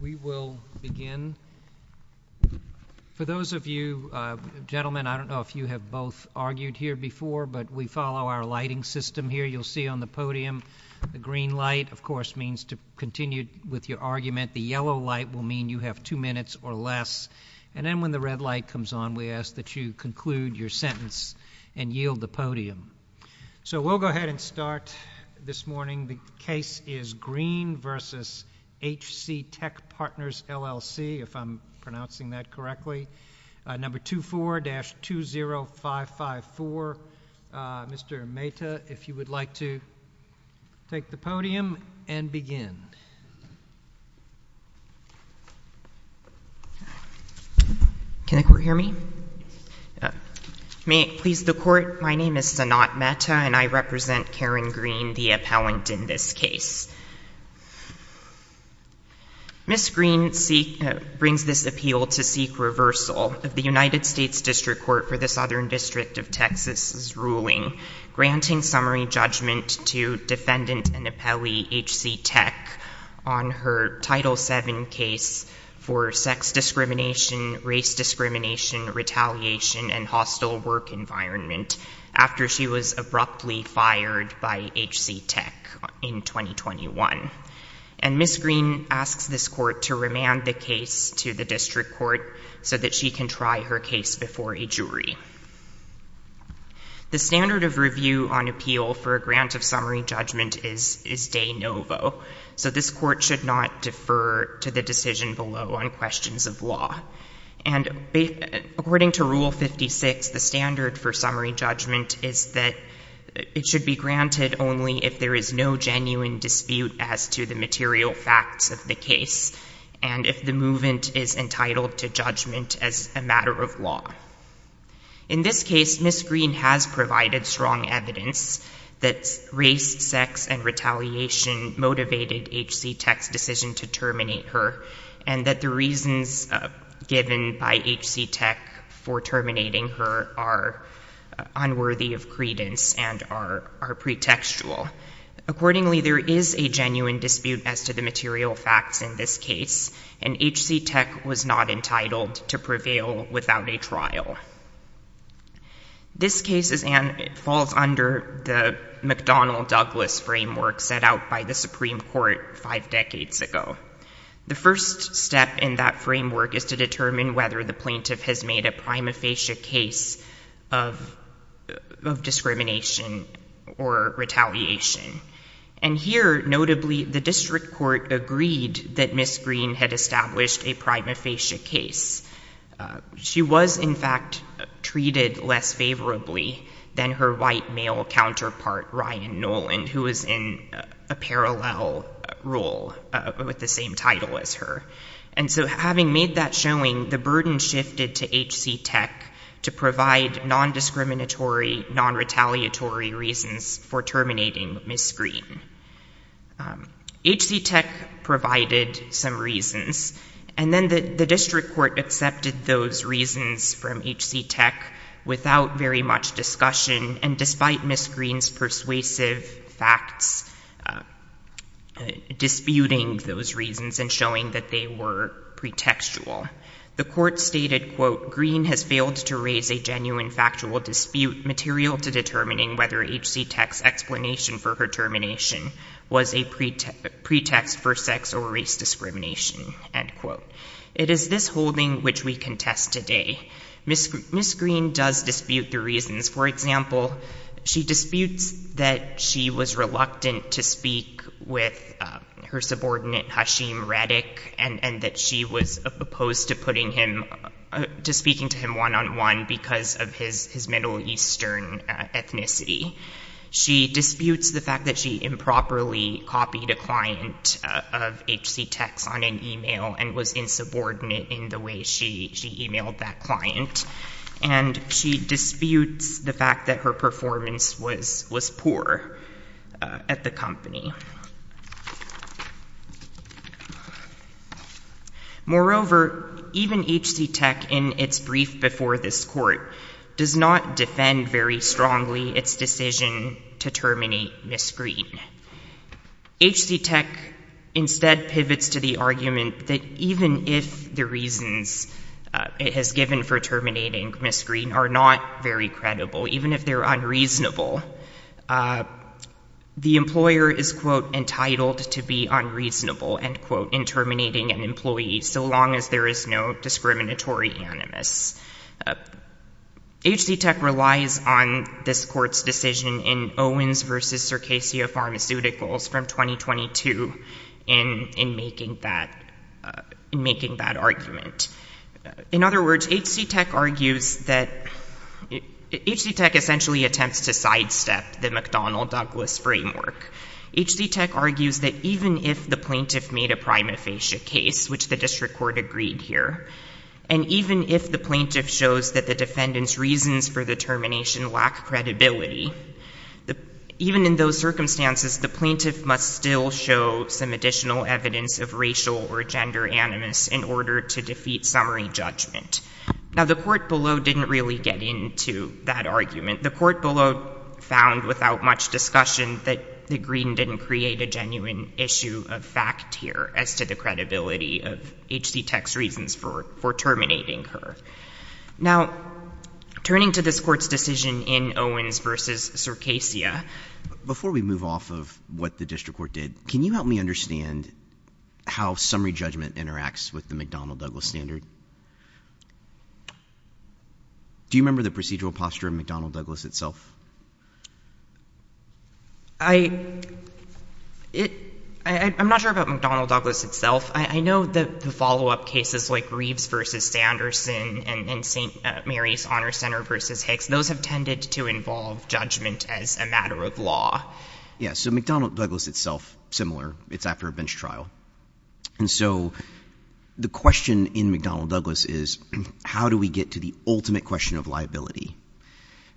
We will begin. For those of you gentlemen, I don't know if you have both argued here before, but we follow our lighting system here. You'll see on the podium the green light of course means to continue with your argument. The yellow light will mean you have two minutes or less. And then when the red light comes on, we ask that you conclude your sentence and yield the podium. So we'll go ahead and start this morning. The case is Green v. HCTec Partners, LLC. If I'm pronouncing that correctly. Number 24-20554. Mr. Mehta, if you would like to take the podium and begin. Can the court hear me? May it please the court, my name is Sanat Mehta and I represent Karen Green, the appellant in this case. Ms. Green brings this appeal to seek reversal of the United States District Court for the Southern District of Texas' ruling granting summary judgment to defendant and appellee HCTec on her Title VII case for sex discrimination, race discrimination, retaliation, and hostile work environment after she was abruptly fired by HCTec in 2021. And Ms. Green asks this court to remand the case to the District Court so that she can try her case before a jury. The standard of review on appeal for a grant of summary judgment is de novo. So this court should not defer to the decision below on questions of law. And according to Rule 56, the standard for summary judgment is that it should be granted only if there is no In this case, Ms. Green has provided strong evidence that race, sex, and retaliation motivated HCTec's decision to terminate her, and that the reasons given by HCTec for terminating her are unworthy of credence and are pretextual. Accordingly, there is a genuine dispute as to the material facts in this case, and HCTec was not entitled to prevail without a trial. This case falls under the McDonnell-Douglas framework set out by the Supreme Court five decades ago. The first step in that framework is to determine whether the plaintiff has made a prima facie case of discrimination or retaliation. And here, notably, the District Court agreed that Ms. Green had established a prima facie case. She was, in fact, treated less favorably than her white male counterpart, Ryan Nolan, who was in a parallel role with the same title as her. And so having made that showing, the burden shifted to HCTec to provide non-discriminatory, non-retaliatory reasons for terminating Ms. Green. HCTec provided some reasons, and then the District Court accepted those reasons from HCTec without very much discussion, and despite Ms. Green's persuasive facts disputing those reasons and showing that they were pretextual. The Court stated, quote, It is this holding which we contest today. Ms. Green does dispute the reasons. For example, she disputes that she was reluctant to speak with her subordinate, Hashim Redick, and that she was opposed to speaking to him one-on-one because of his Middle Eastern ethnicity. She disputes the fact that she improperly copied a client of HCTec's on an email and was insubordinate in the way she emailed that client. And she disputes the fact that her performance was poor at the company. Moreover, even HCTec, in its brief before this Court, does not defend very strongly its decision to terminate Ms. Green. HCTec instead pivots to the argument that even if the reasons it has given for terminating Ms. Green are not very credible, even if they're unreasonable, the employer is, quote, so long as there is no discriminatory animus. HCTec relies on this Court's decision in Owens v. Circassia Pharmaceuticals from 2022 in making that argument. In other words, HCTec argues that—HCTec essentially attempts to sidestep the McDonnell-Douglas framework. HCTec argues that even if the plaintiff made a prima facie case, which the district court agreed here, and even if the plaintiff shows that the defendant's reasons for the termination lack credibility, even in those circumstances, the plaintiff must still show some additional evidence of racial or gender animus in order to defeat summary judgment. Now, the court below didn't really get into that argument. The court below found without much discussion that Green didn't create a genuine issue of fact here as to the credibility of HCTec's reasons for terminating her. Now, turning to this Court's decision in Owens v. Circassia— Before we move off of what the district court did, can you help me understand how summary judgment interacts with the McDonnell-Douglas standard? Do you remember the procedural posture in McDonnell-Douglas itself? I'm not sure about McDonnell-Douglas itself. I know that the follow-up cases like Reeves v. Sanderson and St. Mary's Honor Center v. Hicks, those have tended to involve judgment as a matter of law. Yeah, so McDonnell-Douglas itself, similar. It's after a bench trial. And so the question in McDonnell-Douglas is, how do we get to the ultimate question of liability?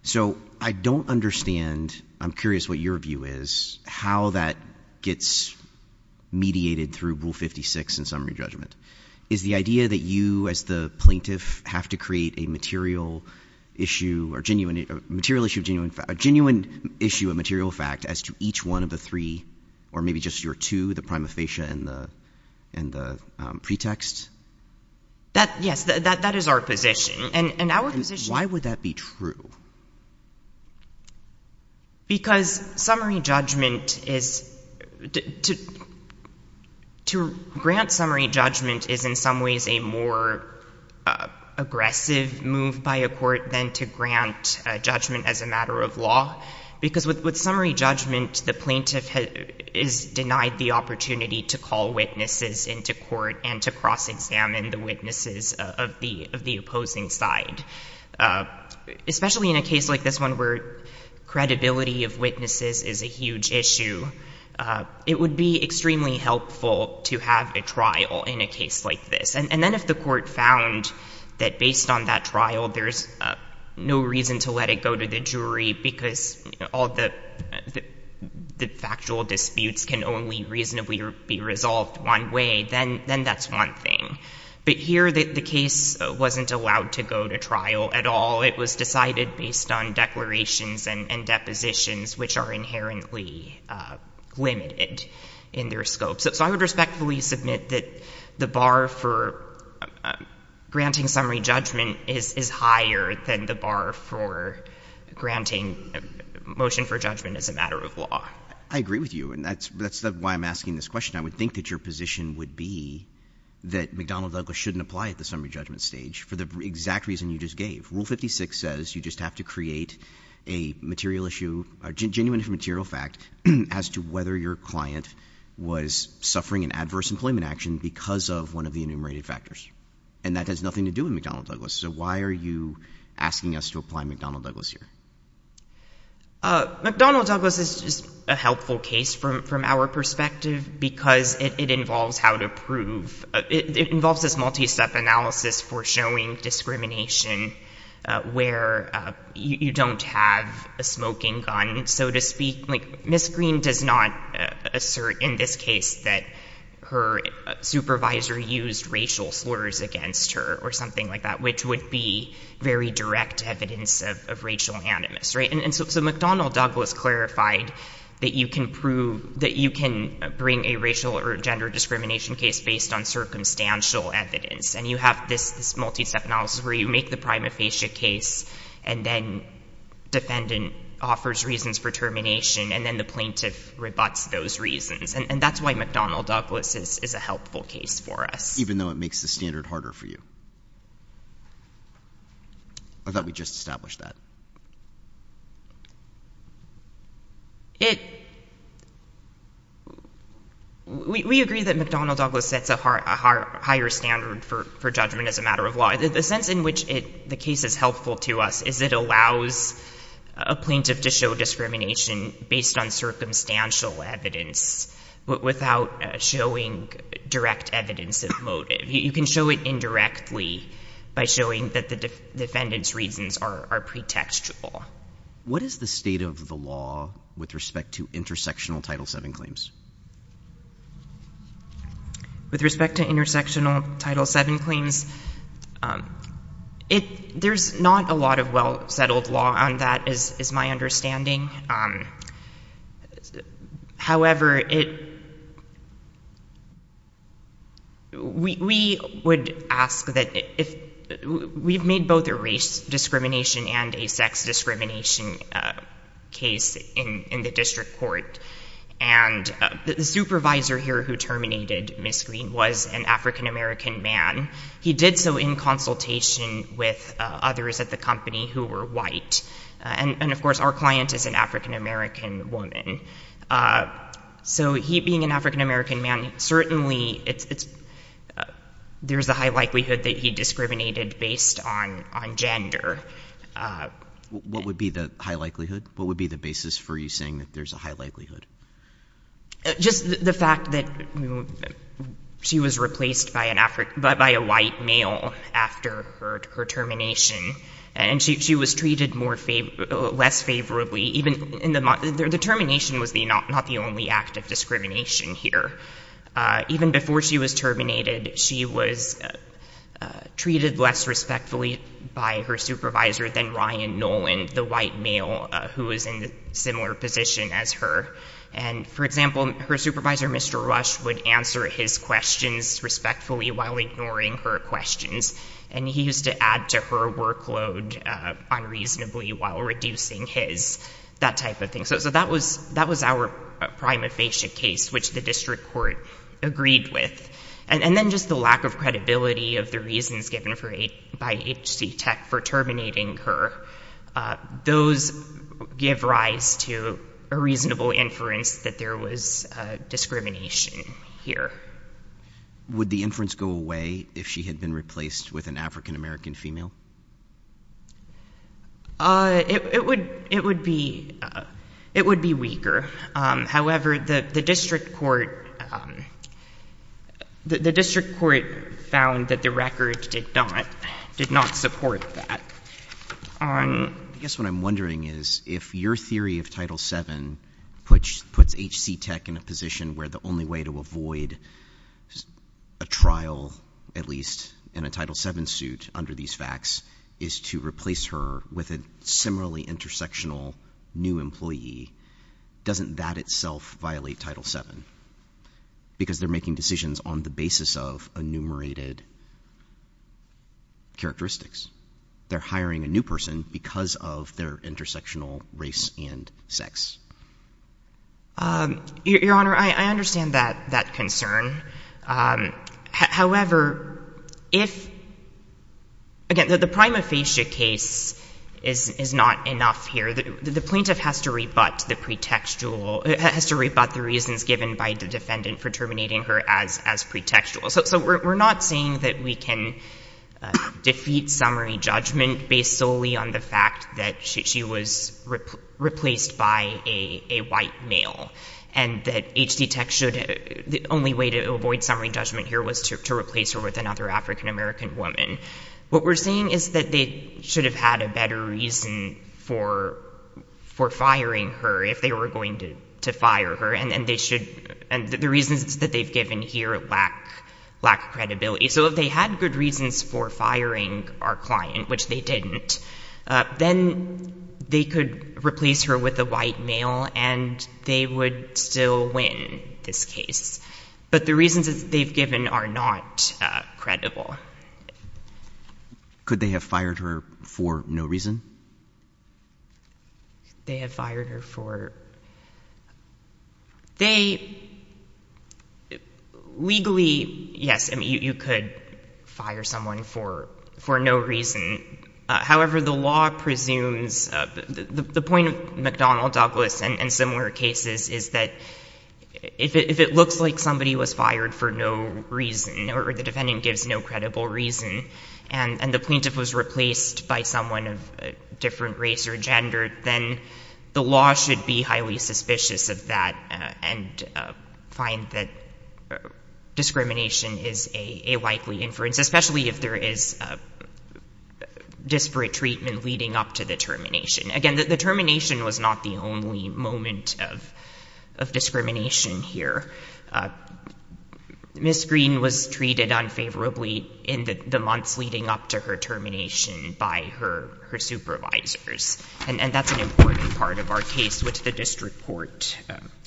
So I don't understand—I'm curious what your view is—how that gets mediated through Rule 56 in summary judgment. Is the idea that you as the plaintiff have to create a material issue of genuine fact—a genuine issue of material fact as to each one of the three, or maybe just your two, the prima facie and the pretext? Yes, that is our position. And why would that be true? Because summary judgment is—to grant summary judgment is in some ways a more aggressive move by a court than to grant judgment as a matter of law. Because with summary judgment, the plaintiff is denied the opportunity to call witnesses into court and to cross-examine the witnesses of the opposing side. Especially in a case like this one where credibility of witnesses is a huge issue, it would be extremely helpful to have a trial in a case like this. And then if the court found that based on that trial there's no reason to let it go to the jury because all the factual disputes can only reasonably be resolved one way, then that's one thing. But here the case wasn't allowed to go to trial at all. It was decided based on declarations and depositions, which are inherently limited in their scope. So I would respectfully submit that the bar for granting summary judgment is higher than the bar for granting motion for judgment as a matter of law. I agree with you. And that's why I'm asking this question. I would think that your position would be that McDonnell Douglas shouldn't apply at the summary judgment stage for the exact reason you just gave. Rule 56 says you just have to create a material issue, a genuine material fact, as to whether your client was suffering an adverse employment action because of one of the enumerated factors. And that has nothing to do with McDonnell Douglas. So why are you asking us to apply McDonnell Douglas here? McDonnell Douglas is a helpful case from our perspective because it involves how to prove. It involves this multi-step analysis for showing discrimination where you don't have a smoking gun, so to speak. Ms. Green does not assert in this case that her supervisor used racial slurs against her or something like that, which would be very direct evidence of racial animus. So McDonnell Douglas clarified that you can bring a racial or gender discrimination case based on circumstantial evidence. And you have this multi-step analysis where you make the prima facie case, and then defendant offers reasons for termination, and then the plaintiff rebuts those reasons. And that's why McDonnell Douglas is a helpful case for us. Even though it makes the standard harder for you? Or that we just established that? We agree that McDonnell Douglas sets a higher standard for judgment as a matter of law. The sense in which the case is helpful to us is it allows a plaintiff to show discrimination based on circumstantial evidence, but without showing direct evidence of motive. You can show it indirectly by showing that the defendant's reasons are pretextual. What is the state of the law with respect to intersectional Title VII claims? With respect to intersectional Title VII claims, there's not a lot of well-settled law on that, is my understanding. However, we would ask that if we've made both a race discrimination and a sex discrimination case in the district court, and the supervisor here who terminated Ms. Green was an African-American man. He did so in consultation with others at the company who were white. And, of course, our client is an African-American woman. So he, being an African-American man, certainly there's a high likelihood that he discriminated based on gender. What would be the high likelihood? What would be the basis for you saying that there's a high likelihood? Just the fact that she was replaced by a white male after her termination. And she was treated less favorably. The termination was not the only act of discrimination here. Even before she was terminated, she was treated less respectfully by her supervisor than Ryan Nolan, the white male who was in a similar position as her. And, for example, her supervisor, Mr. Rush, would answer his questions respectfully while ignoring her questions. And he used to add to her workload unreasonably while reducing his. That type of thing. So that was our prima facie case, which the district court agreed with. And then just the lack of credibility of the reasons given by HC Tech for terminating her, those give rise to a reasonable inference that there was discrimination here. Would the inference go away if she had been replaced with an African-American female? It would be weaker. However, the district court found that the record did not support that. I guess what I'm wondering is if your theory of Title VII puts HC Tech in a position where the only way to avoid a trial, at least in a Title VII suit under these facts, is to replace her with a similarly intersectional new employee, doesn't that itself violate Title VII? Because they're making decisions on the basis of enumerated characteristics. They're hiring a new person because of their intersectional race and sex. Your Honor, I understand that concern. However, again, the prima facie case is not enough here. The plaintiff has to rebut the reasons given by the defendant for terminating her as pretextual. So we're not saying that we can defeat summary judgment based solely on the fact that she was replaced by a white male. And that HC Tech, the only way to avoid summary judgment here was to replace her with another African-American woman. What we're saying is that they should have had a better reason for firing her if they were going to fire her. And the reasons that they've given here lack credibility. So if they had good reasons for firing our client, which they didn't, then they could replace her with a white male. And they would still win this case. But the reasons that they've given are not credible. Could they have fired her for no reason? They have fired her for... They legally, yes, you could fire someone for no reason. However, the law presumes... The point of McDonnell Douglas and similar cases is that if it looks like somebody was fired for no reason, or the defendant gives no credible reason, and the plaintiff was replaced by someone of a different race or gender, then the law should be highly suspicious of that and find that discrimination is a likely inference, especially if there is disparate treatment leading up to the termination. Again, the termination was not the only moment of discrimination here. Ms. Green was treated unfavorably in the months leading up to her termination by her supervisors. And that's an important part of our case, which the district court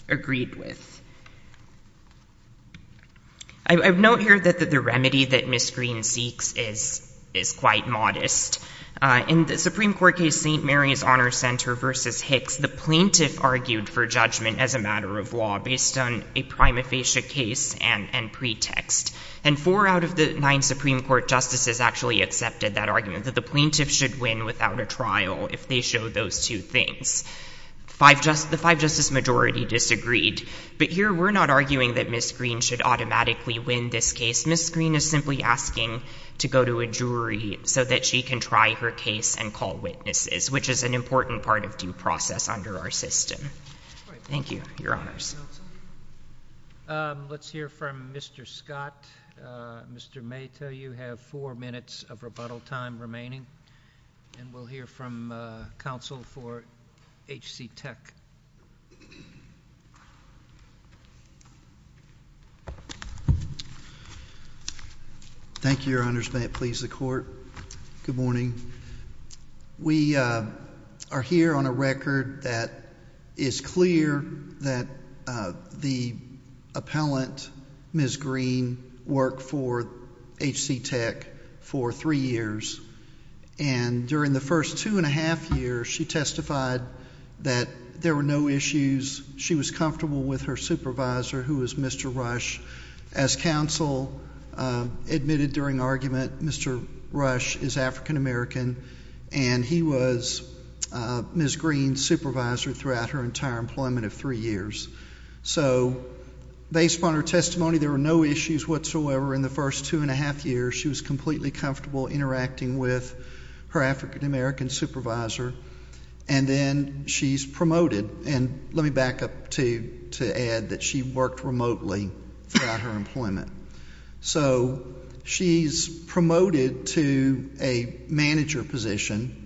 agreed with. I note here that the remedy that Ms. Green seeks is quite modest. In the Supreme Court case St. Mary's Honor Center v. Hicks, the plaintiff argued for judgment as a matter of law based on a prima facie case and pretext. And four out of the nine Supreme Court justices actually accepted that argument, that the plaintiff should win without a trial if they show those two things. The five-justice majority disagreed. But here we're not arguing that Ms. Green should automatically win this case. Ms. Green is simply asking to go to a jury so that she can try her case and call witnesses, which is an important part of due process under our system. Thank you. Your Honors. Let's hear from Mr. Scott. Mr. Mayta, you have four minutes of rebuttal time remaining. And we'll hear from counsel for H.C. Tech. Thank you, Your Honors. May it please the Court. Good morning. We are here on a record that is clear that the appellant, Ms. Green, worked for H.C. Tech for three years. And during the first two and a half years, she testified that there were no issues. She was comfortable with her supervisor, who was Mr. Rush. As counsel admitted during argument, Mr. Rush is African-American, and he was Ms. Green's supervisor throughout her entire employment of three years. So based upon her testimony, there were no issues whatsoever in the first two and a half years. She was completely comfortable interacting with her African-American supervisor. And then she's promoted. And let me back up to add that she worked remotely throughout her employment. So she's promoted to a manager position.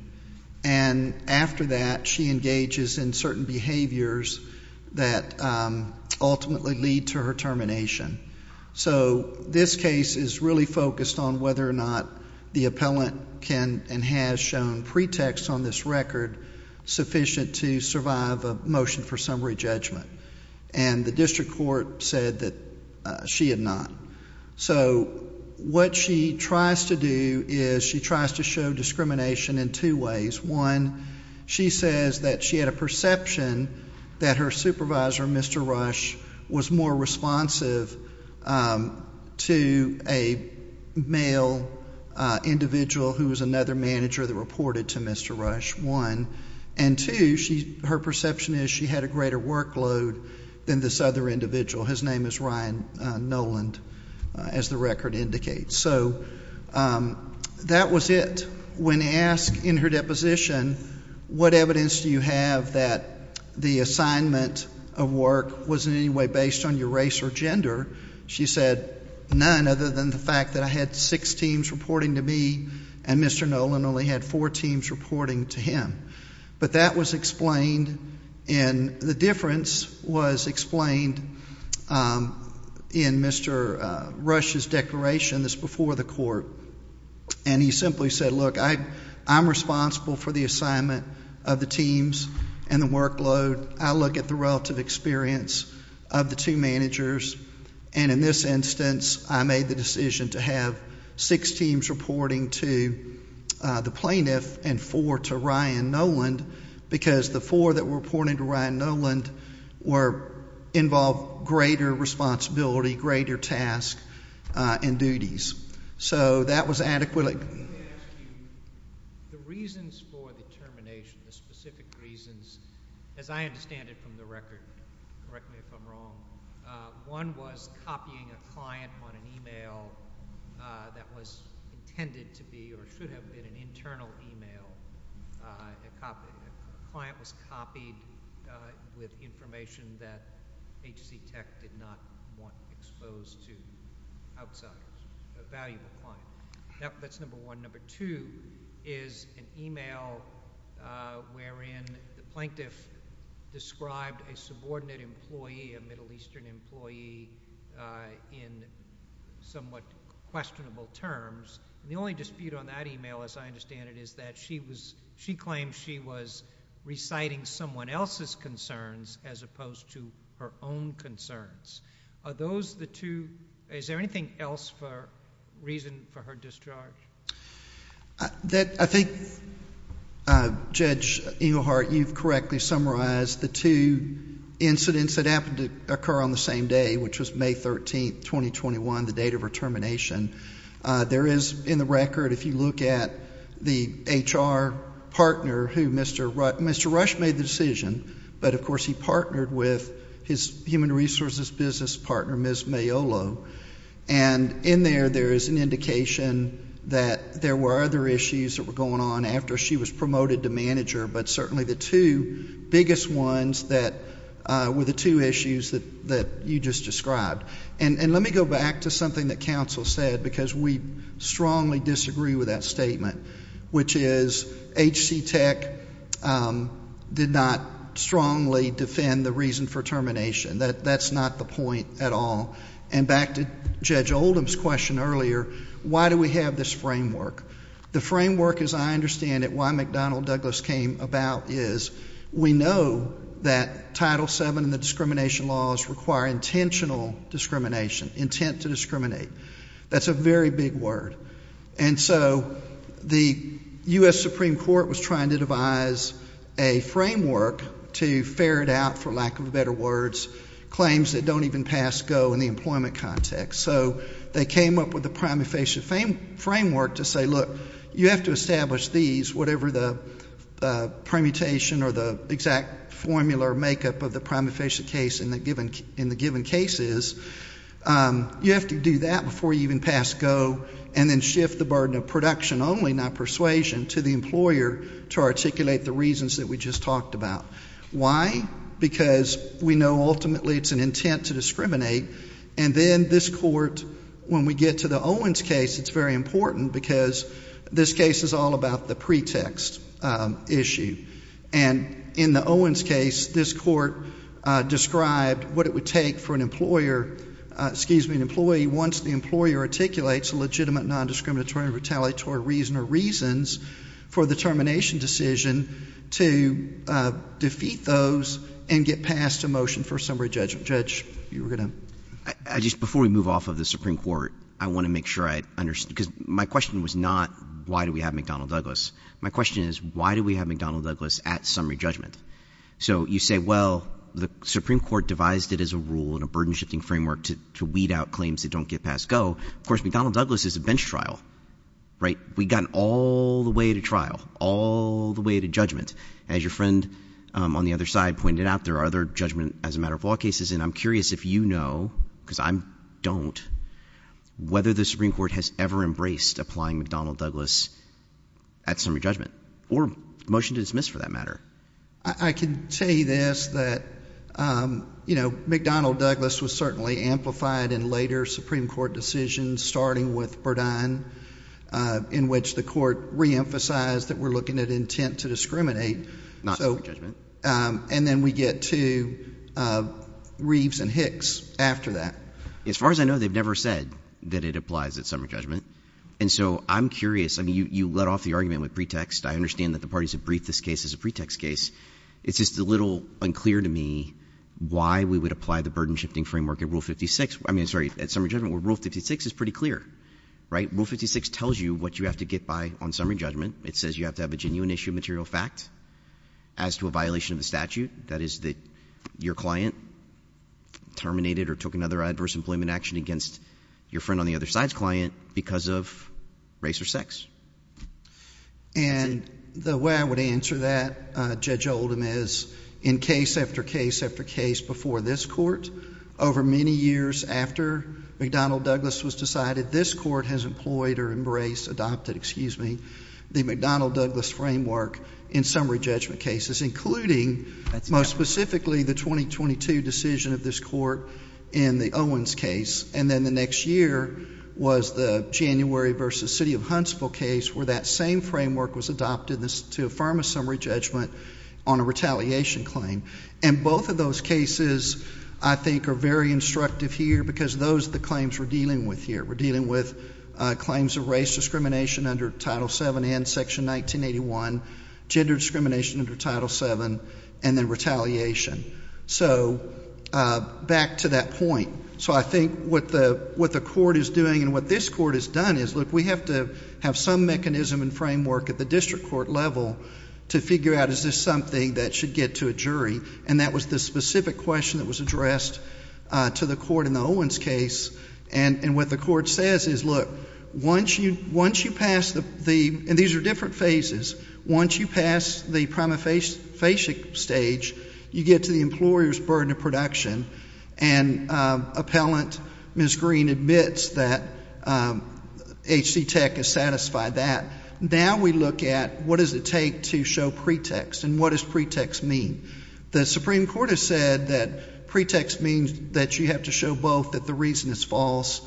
And after that, she engages in certain behaviors that ultimately lead to her termination. So this case is really focused on whether or not the appellant can and has shown pretext on this record sufficient to survive a motion for summary judgment. And the district court said that she had not. So what she tries to do is she tries to show discrimination in two ways. One, she says that she had a perception that her supervisor, Mr. Rush, was more responsive to a male individual who was another manager that reported to Mr. Rush, one. And two, her perception is she had a greater workload than this other individual. His name is Ryan Noland, as the record indicates. So that was it. First, when asked in her deposition, what evidence do you have that the assignment of work was in any way based on your race or gender, she said none other than the fact that I had six teams reporting to me and Mr. Noland only had four teams reporting to him. But that was explained, and the difference was explained in Mr. Rush's declaration that's before the court. And he simply said, look, I'm responsible for the assignment of the teams and the workload. I look at the relative experience of the two managers. And in this instance, I made the decision to have six teams reporting to the plaintiff and four to Ryan Noland, because the four that were reporting to Ryan Noland involved greater responsibility, greater tasks and duties. So that was adequate. The reasons for the termination, the specific reasons, as I understand it from the record, correct me if I'm wrong, one was copying a client on an e-mail that was intended to be or should have been an internal e-mail. A client was copied with information that HCTech did not want exposed to outside a valuable client. That's number one. Number two is an e-mail wherein the plaintiff described a subordinate employee, a Middle Eastern employee in somewhat questionable terms. And the only dispute on that e-mail, as I understand it, is that she claimed she was reciting someone else's concerns as opposed to her own concerns. Are those the two? Is there anything else for reason for her discharge? I think, Judge Engelhardt, you've correctly summarized the two incidents that happened to occur on the same day, which was May 13th, 2021, the date of her termination. There is, in the record, if you look at the HR partner who Mr. Rush made the decision, but of course he partnered with his human resources business partner, Ms. Maiolo, and in there there is an indication that there were other issues that were going on after she was promoted to manager, but certainly the two biggest ones were the two issues that you just described. And let me go back to something that counsel said because we strongly disagree with that statement, which is HCTEC did not strongly defend the reason for termination. That's not the point at all. And back to Judge Oldham's question earlier, why do we have this framework? The framework, as I understand it, why McDonnell Douglas came about is we know that Title VII and the discrimination laws require intentional discrimination, intent to discriminate. That's a very big word. And so the U.S. Supreme Court was trying to devise a framework to ferret out, for lack of better words, claims that don't even pass GO in the employment context. So they came up with the prima facie framework to say, look, you have to establish these, whatever the permutation or the exact formula or makeup of the prima facie case in the given case is, you have to do that before you even pass GO and then shift the burden of production only, not persuasion, to the employer to articulate the reasons that we just talked about. Why? Because we know ultimately it's an intent to discriminate, and then this Court, when we get to the Owens case, it's very important because this case is all about the pretext issue. And in the Owens case, this Court described what it would take for an employer, excuse me, an employee, once the employer articulates a legitimate non-discriminatory or retaliatory reason or reasons for the termination decision, to defeat those and get past a motion for summary judgment. Judge, you were going to? Just before we move off of the Supreme Court, I want to make sure I understand, because my question was not, why do we have McDonnell Douglas? My question is, why do we have McDonnell Douglas at summary judgment? So you say, well, the Supreme Court devised it as a rule and a burden-shifting framework to weed out claims that don't get past GO. Of course, McDonnell Douglas is a bench trial, right? We got all the way to trial, all the way to judgment. As your friend on the other side pointed out, there are other judgment as a matter of law cases, and I'm curious if you know, because I don't, whether the Supreme Court has ever embraced applying McDonnell Douglas at summary judgment, or motion to dismiss for that matter. I can say this, that, you know, McDonnell Douglas was certainly amplified in later Supreme Court decisions, starting with Burdine, in which the Court reemphasized that we're looking at intent to discriminate. Not summary judgment. And then we get to Reeves and Hicks after that. As far as I know, they've never said that it applies at summary judgment, and so I'm curious. I mean, you led off the argument with pretext. I understand that the parties have briefed this case as a pretext case. It's just a little unclear to me why we would apply the burden-shifting framework at Rule 56. I mean, sorry, at summary judgment, Rule 56 is pretty clear, right? Rule 56 tells you what you have to get by on summary judgment. It says you have to have a genuine issue of material fact as to a violation of the statute. That is that your client terminated or took another adverse employment action against your friend on the other side's client because of race or sex. And the way I would answer that, Judge Oldham, is in case after case after case before this Court, over many years after McDonnell Douglas was decided, this Court has employed or embraced, adopted, excuse me, the McDonnell Douglas framework in summary judgment cases, including, most specifically, the 2022 decision of this Court in the Owens case. And then the next year was the January v. City of Huntsville case, where that same framework was adopted to affirm a summary judgment on a retaliation claim. And both of those cases, I think, are very instructive here because those are the claims we're dealing with here. We're dealing with claims of race discrimination under Title VII and Section 1981, gender discrimination under Title VII, and then retaliation. So back to that point. So I think what the Court is doing and what this Court has done is, look, we have to have some mechanism and framework at the district court level to figure out is this something that should get to a jury. And that was the specific question that was addressed to the Court in the Owens case and what the Court says is, look, once you pass the, and these are different phases, once you pass the prima facie stage, you get to the employer's burden of production, and appellant Ms. Green admits that H.C. Tech has satisfied that. Now we look at what does it take to show pretext and what does pretext mean? The Supreme Court has said that pretext means that you have to show both that the reason is false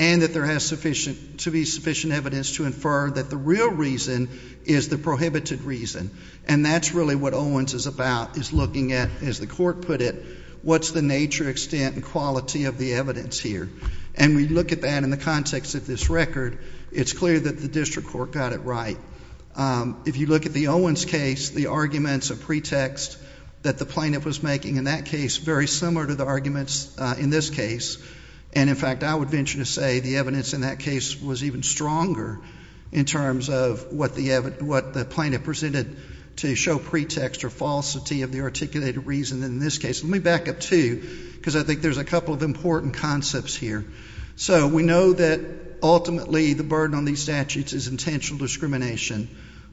and that there has to be sufficient evidence to infer that the real reason is the prohibited reason. And that's really what Owens is about, is looking at, as the Court put it, what's the nature, extent, and quality of the evidence here. And we look at that in the context of this record. It's clear that the district court got it right. If you look at the Owens case, the arguments of pretext that the plaintiff was making in that case, very similar to the arguments in this case. And, in fact, I would venture to say the evidence in that case was even stronger in terms of what the plaintiff presented to show pretext or falsity of the articulated reason in this case. Let me back up, too, because I think there's a couple of important concepts here. So we know that ultimately the burden on these statutes is intentional discrimination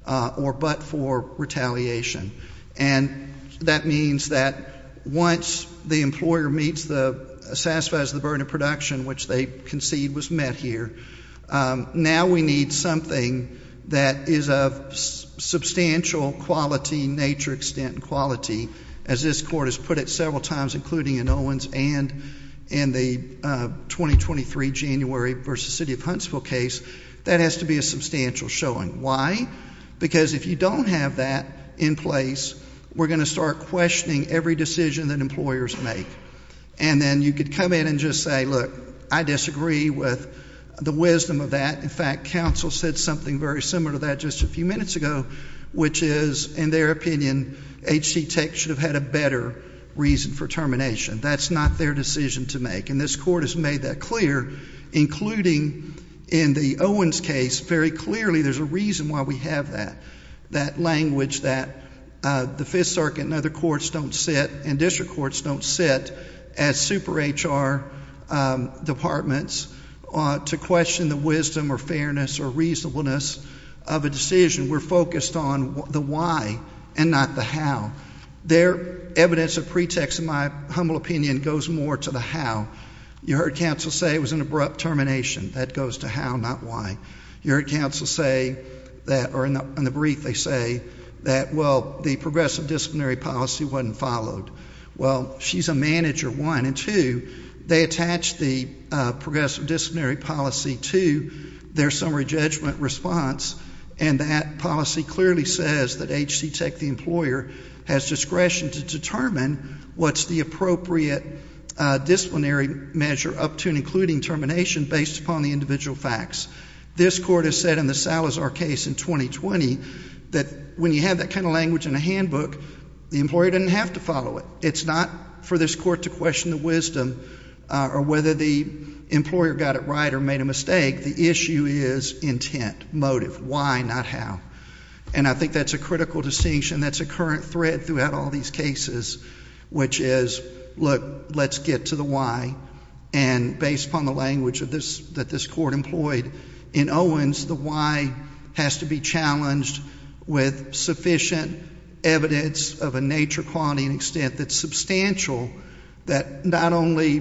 or but for retaliation. And that means that once the employer meets the, satisfies the burden of production, which they concede was met here, now we need something that is of substantial quality, nature, extent, and quality. As this Court has put it several times, including in Owens and in the 2023 January v. City of Huntsville case, that has to be a substantial showing. Why? Because if you don't have that in place, we're going to start questioning every decision that employers make. And then you could come in and just say, look, I disagree with the wisdom of that. In fact, counsel said something very similar to that just a few minutes ago, which is, in their opinion, H.C. Tech should have had a better reason for termination. That's not their decision to make. And this Court has made that clear, including in the Owens case. Very clearly there's a reason why we have that, that language that the Fifth Circuit and other courts don't sit and district courts don't sit as super HR departments to question the wisdom or fairness or reasonableness of a decision. We're focused on the why and not the how. Their evidence of pretext, in my humble opinion, goes more to the how. You heard counsel say it was an abrupt termination. That goes to how, not why. You heard counsel say, or in the brief they say, that, well, the progressive disciplinary policy wasn't followed. Well, she's a manager, one. They attached the progressive disciplinary policy to their summary judgment response, and that policy clearly says that H.C. Tech, the employer, has discretion to determine what's the appropriate disciplinary measure up to and including termination based upon the individual facts. This Court has said in the Salazar case in 2020 that when you have that kind of language in a handbook, the employer doesn't have to follow it. It's not for this Court to question the wisdom or whether the employer got it right or made a mistake. The issue is intent, motive, why, not how. And I think that's a critical distinction that's a current thread throughout all these cases, which is, look, let's get to the why. And based upon the language that this Court employed in Owens, the why has to be challenged with sufficient evidence of a nature, quality, and extent that's substantial, that not only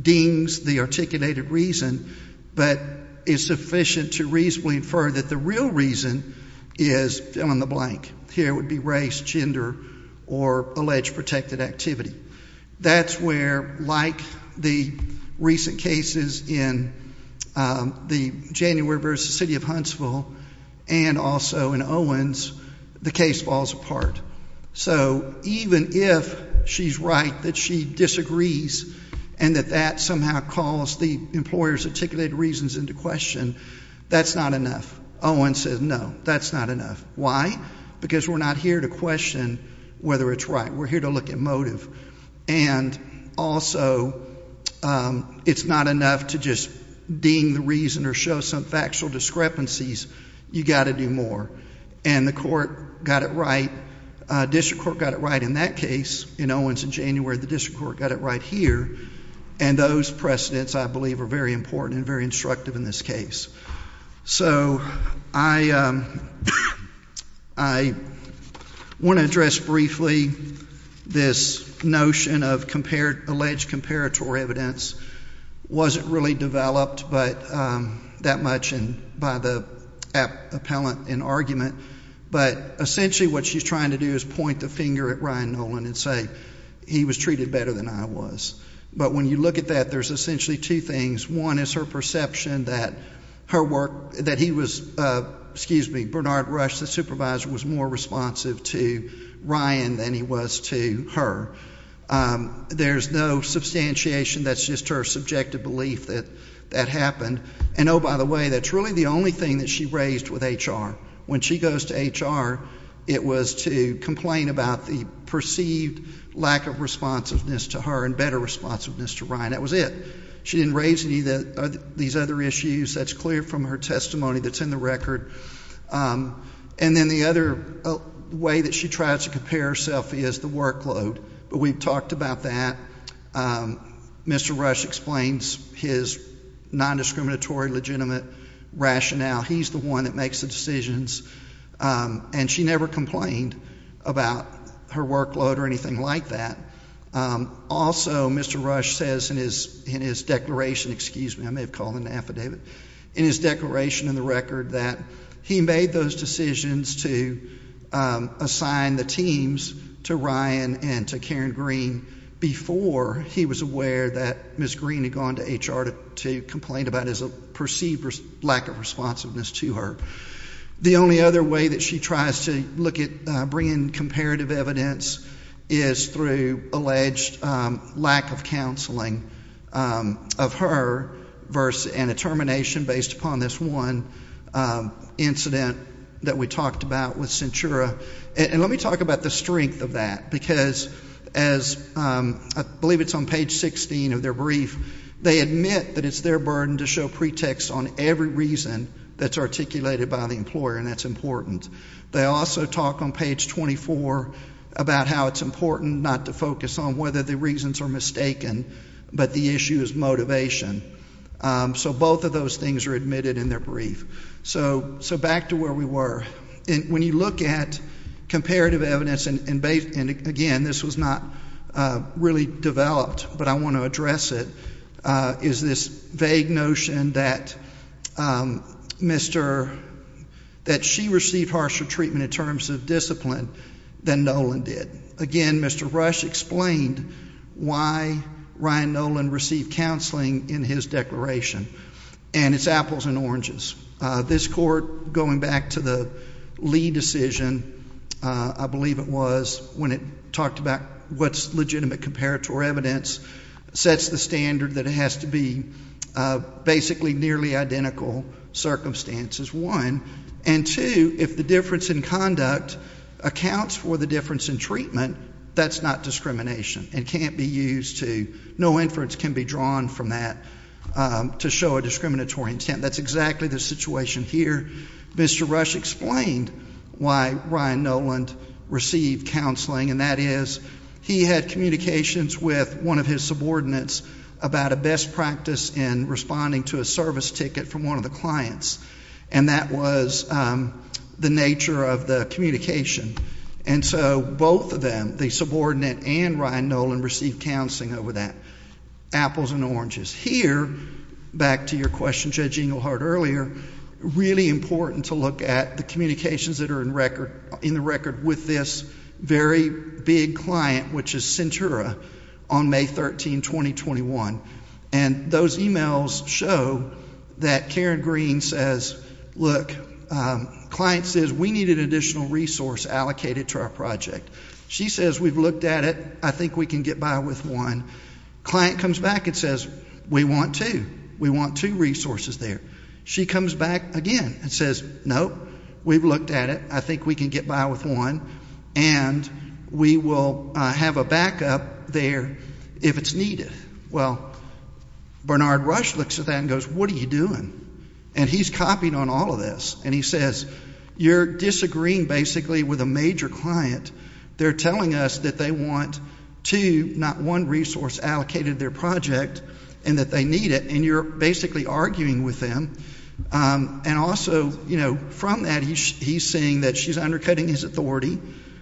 deems the articulated reason, but is sufficient to reasonably infer that the real reason is fill-in-the-blank. Here it would be race, gender, or alleged protected activity. That's where, like the recent cases in the January versus the City of Huntsville and also in Owens, the case falls apart. So even if she's right that she disagrees and that that somehow calls the employer's articulated reasons into question, that's not enough. Owens says, no, that's not enough. Why? Because we're not here to question whether it's right. We're here to look at motive. And also, it's not enough to just deem the reason or show some factual discrepancies. You've got to do more. And the court got it right, district court got it right in that case in Owens in January. The district court got it right here. And those precedents, I believe, are very important and very instructive in this case. So I want to address briefly this notion of alleged comparatory evidence. It wasn't really developed that much by the appellant in argument. But essentially what she's trying to do is point the finger at Ryan Nolan and say, he was treated better than I was. But when you look at that, there's essentially two things. One is her perception that her work, that he was, excuse me, Bernard Rush, the supervisor, was more responsive to Ryan than he was to her. There's no substantiation. That's just her subjective belief that that happened. And, oh, by the way, that's really the only thing that she raised with HR. When she goes to HR, it was to complain about the perceived lack of responsiveness to her and better responsiveness to Ryan. That was it. She didn't raise any of these other issues. That's clear from her testimony that's in the record. And then the other way that she tried to compare herself is the workload. But we've talked about that. Mr. Rush explains his nondiscriminatory, legitimate rationale. He's the one that makes the decisions. And she never complained about her workload or anything like that. Also, Mr. Rush says in his declaration, excuse me, I may have called an affidavit, in his declaration in the record that he made those decisions to assign the teams to Ryan and to Karen Green before he was aware that Ms. Green had gone to HR to complain about his perceived lack of responsiveness to her. The only other way that she tries to look at bringing comparative evidence is through alleged lack of counseling of her and a termination based upon this one incident that we talked about with Centura. And let me talk about the strength of that, because as I believe it's on page 16 of their brief, they admit that it's their burden to show pretext on every reason that's articulated by the employer, and that's important. They also talk on page 24 about how it's important not to focus on whether the reasons are mistaken, but the issue is motivation. So both of those things are admitted in their brief. So back to where we were. When you look at comparative evidence, and again, this was not really developed, but I want to address it, is this vague notion that she received harsher treatment in terms of discipline than Nolan did. Again, Mr. Rush explained why Ryan Nolan received counseling in his declaration, and it's apples and oranges. This court, going back to the Lee decision, I believe it was, when it talked about what's legitimate comparative evidence, sets the standard that it has to be basically nearly identical circumstances, one, and two, if the difference in conduct accounts for the difference in treatment, that's not discrimination. It can't be used to, no inference can be drawn from that to show a discriminatory intent. That's exactly the situation here. Mr. Rush explained why Ryan Nolan received counseling, and that is he had communications with one of his subordinates about a best practice in responding to a service ticket from one of the clients, and that was the nature of the communication. And so both of them, the subordinate and Ryan Nolan, received counseling over that. Apples and oranges. Here, back to your question, Judge Engelhardt, earlier, really important to look at the communications that are in the record with this very big client, which is Centura, on May 13, 2021. And those emails show that Karen Green says, look, client says we needed additional resource allocated to our project. She says we've looked at it. I think we can get by with one. Client comes back and says, we want two. We want two resources there. She comes back again and says, nope, we've looked at it. I think we can get by with one, and we will have a backup there if it's needed. Well, Bernard Rush looks at that and goes, what are you doing? And he's copied on all of this, and he says, you're disagreeing basically with a major client. They're telling us that they want two, not one resource allocated to their project, and that they need it. And you're basically arguing with them. And also, you know, from that, he's saying that she's undercutting his authority,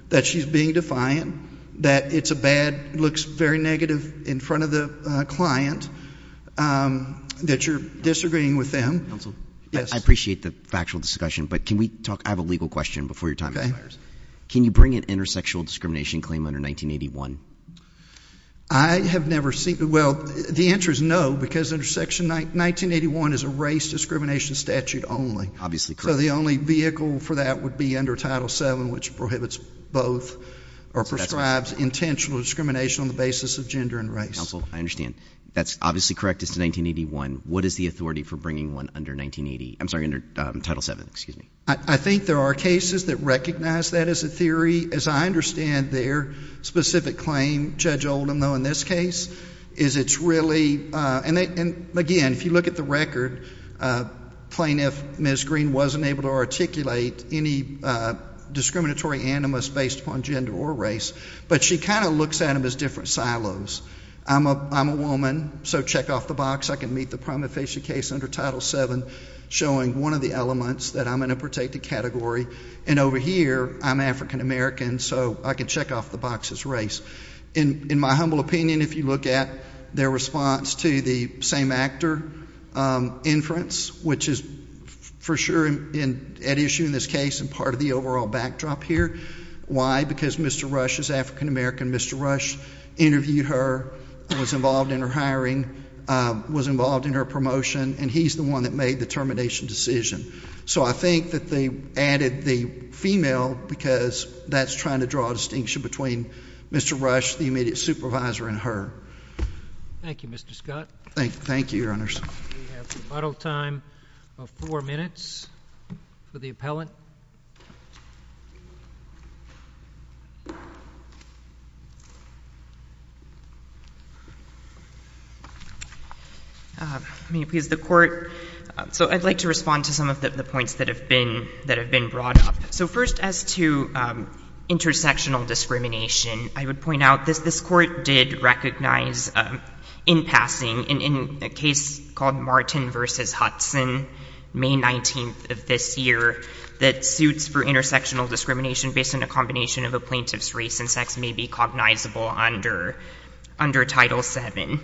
that she's being defiant, that it's a bad, looks very negative in front of the client, that you're disagreeing with them. I appreciate the factual discussion, but can we talk? I have a legal question before your time expires. Can you bring an intersexual discrimination claim under 1981? I have never seen it. Well, the answer is no, because intersection 1981 is a race discrimination statute only. So the only vehicle for that would be under Title VII, which prohibits both or prescribes intentional discrimination on the basis of gender and race. Counsel, I understand. That's obviously correct as to 1981. What is the authority for bringing one under 1980? I'm sorry, under Title VII, excuse me. I think there are cases that recognize that as a theory. As I understand their specific claim, Judge Oldham, though, in this case, is it's really, and again, if you look at the record, plaintiff, Ms. Green, wasn't able to articulate any discriminatory animus based upon gender or race, but she kind of looks at them as different silos. I'm a woman, so check off the box. I can meet the prima facie case under Title VII, showing one of the elements that I'm in a protected category, and over here, I'm African American, so I can check off the box as race. In my humble opinion, if you look at their response to the same actor inference, which is for sure an issue in this case and part of the overall backdrop here. Why? Because Mr. Rush is African American. Mr. Rush interviewed her, was involved in her hiring, was involved in her promotion, and he's the one that made the termination decision. So I think that they added the female because that's trying to draw a distinction between Mr. Rush, the immediate supervisor, and her. Thank you, Mr. Scott. Thank you, Your Honors. We have the final time of four minutes for the appellant. May it please the Court? So I'd like to respond to some of the points that have been brought up. So first, as to intersectional discrimination, I would point out this. This Court did recognize, in passing, in a case called Martin v. Hudson, May 19th of this year, that suits for intersectional discrimination based on a combination of a plaintiff's race and sex may be cognizable under Title VII.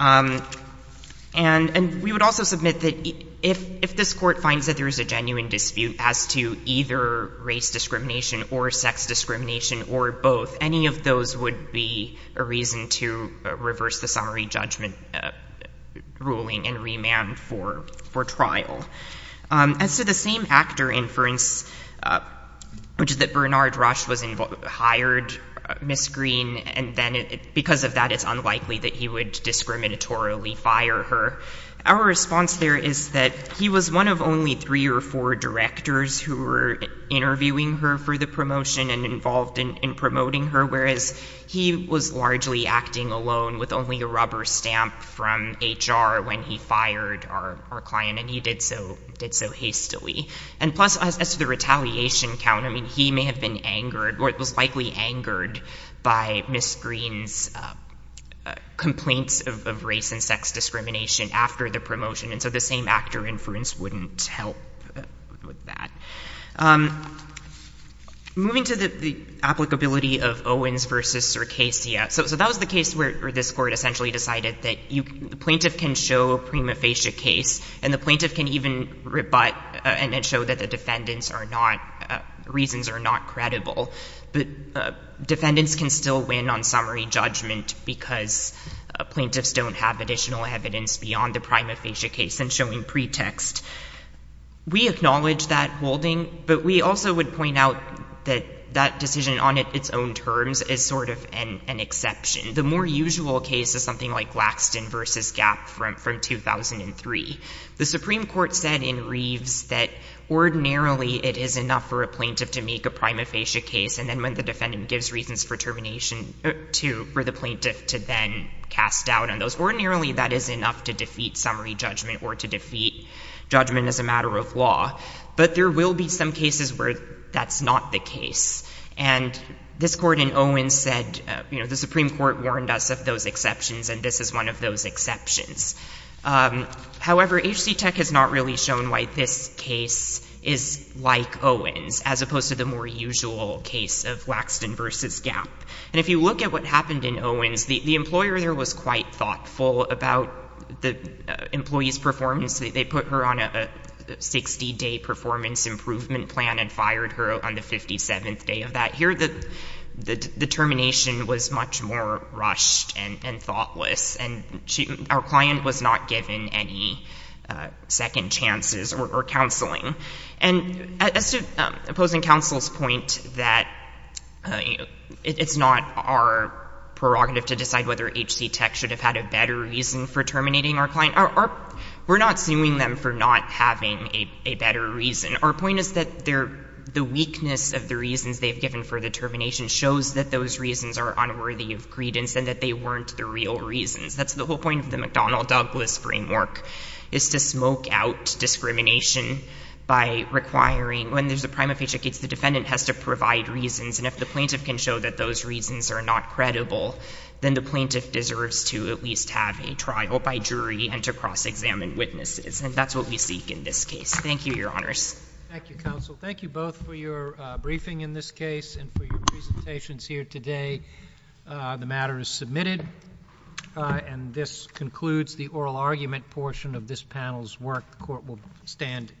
And we would also submit that if this Court finds that there is a genuine dispute as to either race discrimination or sex discrimination or both, any of those would be a reason to reverse the summary judgment ruling and remand for trial. As to the same actor inference, which is that Bernard Rush hired Ms. Green, and then because of that, it's unlikely that he would discriminatorily fire her, our response there is that he was one of only three or four directors who were interviewing her for the promotion and involved in promoting her, whereas he was largely acting alone with only a rubber stamp from HR when he fired our client, and he did so hastily. And plus, as to the retaliation count, I mean, he may have been angered, or was likely angered, by Ms. Green's complaints of race and sex discrimination after the promotion, and so the same actor inference wouldn't help with that. Moving to the applicability of Owens v. Circasia. So that was the case where this Court essentially decided that the plaintiff can show a prima facie case, and the plaintiff can even rebut and show that the defendants' reasons are not credible, but defendants can still win on summary judgment because plaintiffs don't have additional evidence beyond the prima facie case and showing pretext. We acknowledge that holding, but we also would point out that that decision on its own terms is sort of an exception. The more usual case is something like Laxton v. Gap from 2003. The Supreme Court said in Reeves that ordinarily it is enough for a plaintiff to make a prima facie case, and then when the defendant gives reasons for termination, for the plaintiff to then cast doubt on those. Ordinarily that is enough to defeat summary judgment or to defeat judgment as a matter of law, but there will be some cases where that's not the case. And this Court in Owens said, you know, the Supreme Court warned us of those exceptions, and this is one of those exceptions. However, HCTEC has not really shown why this case is like Owens as opposed to the more usual case of Laxton v. Gap. And if you look at what happened in Owens, the employer there was quite thoughtful about the employee's performance. They put her on a 60-day performance improvement plan and fired her on the 57th day of that. Here the termination was much more rushed and thoughtless, and our client was not given any second chances or counseling. And as to opposing counsel's point that it's not our prerogative to decide whether HCTEC should have had a better reason for terminating our client, we're not suing them for not having a better reason. Our point is that the weakness of the reasons they've given for the termination shows that those reasons are unworthy of credence and that they weren't the real reasons. That's the whole point of the McDonnell-Douglas framework, is to smoke out discrimination by requiring when there's a prima facie case, the defendant has to provide reasons. And if the plaintiff can show that those reasons are not credible, then the plaintiff deserves to at least have a trial by jury and to cross-examine witnesses, and that's what we seek in this case. Thank you, Your Honors. Thank you, Counsel. Thank you both for your briefing in this case and for your presentations here today. The matter is submitted, and this concludes the oral argument portion of this panel's work. The Court will stand adjourned.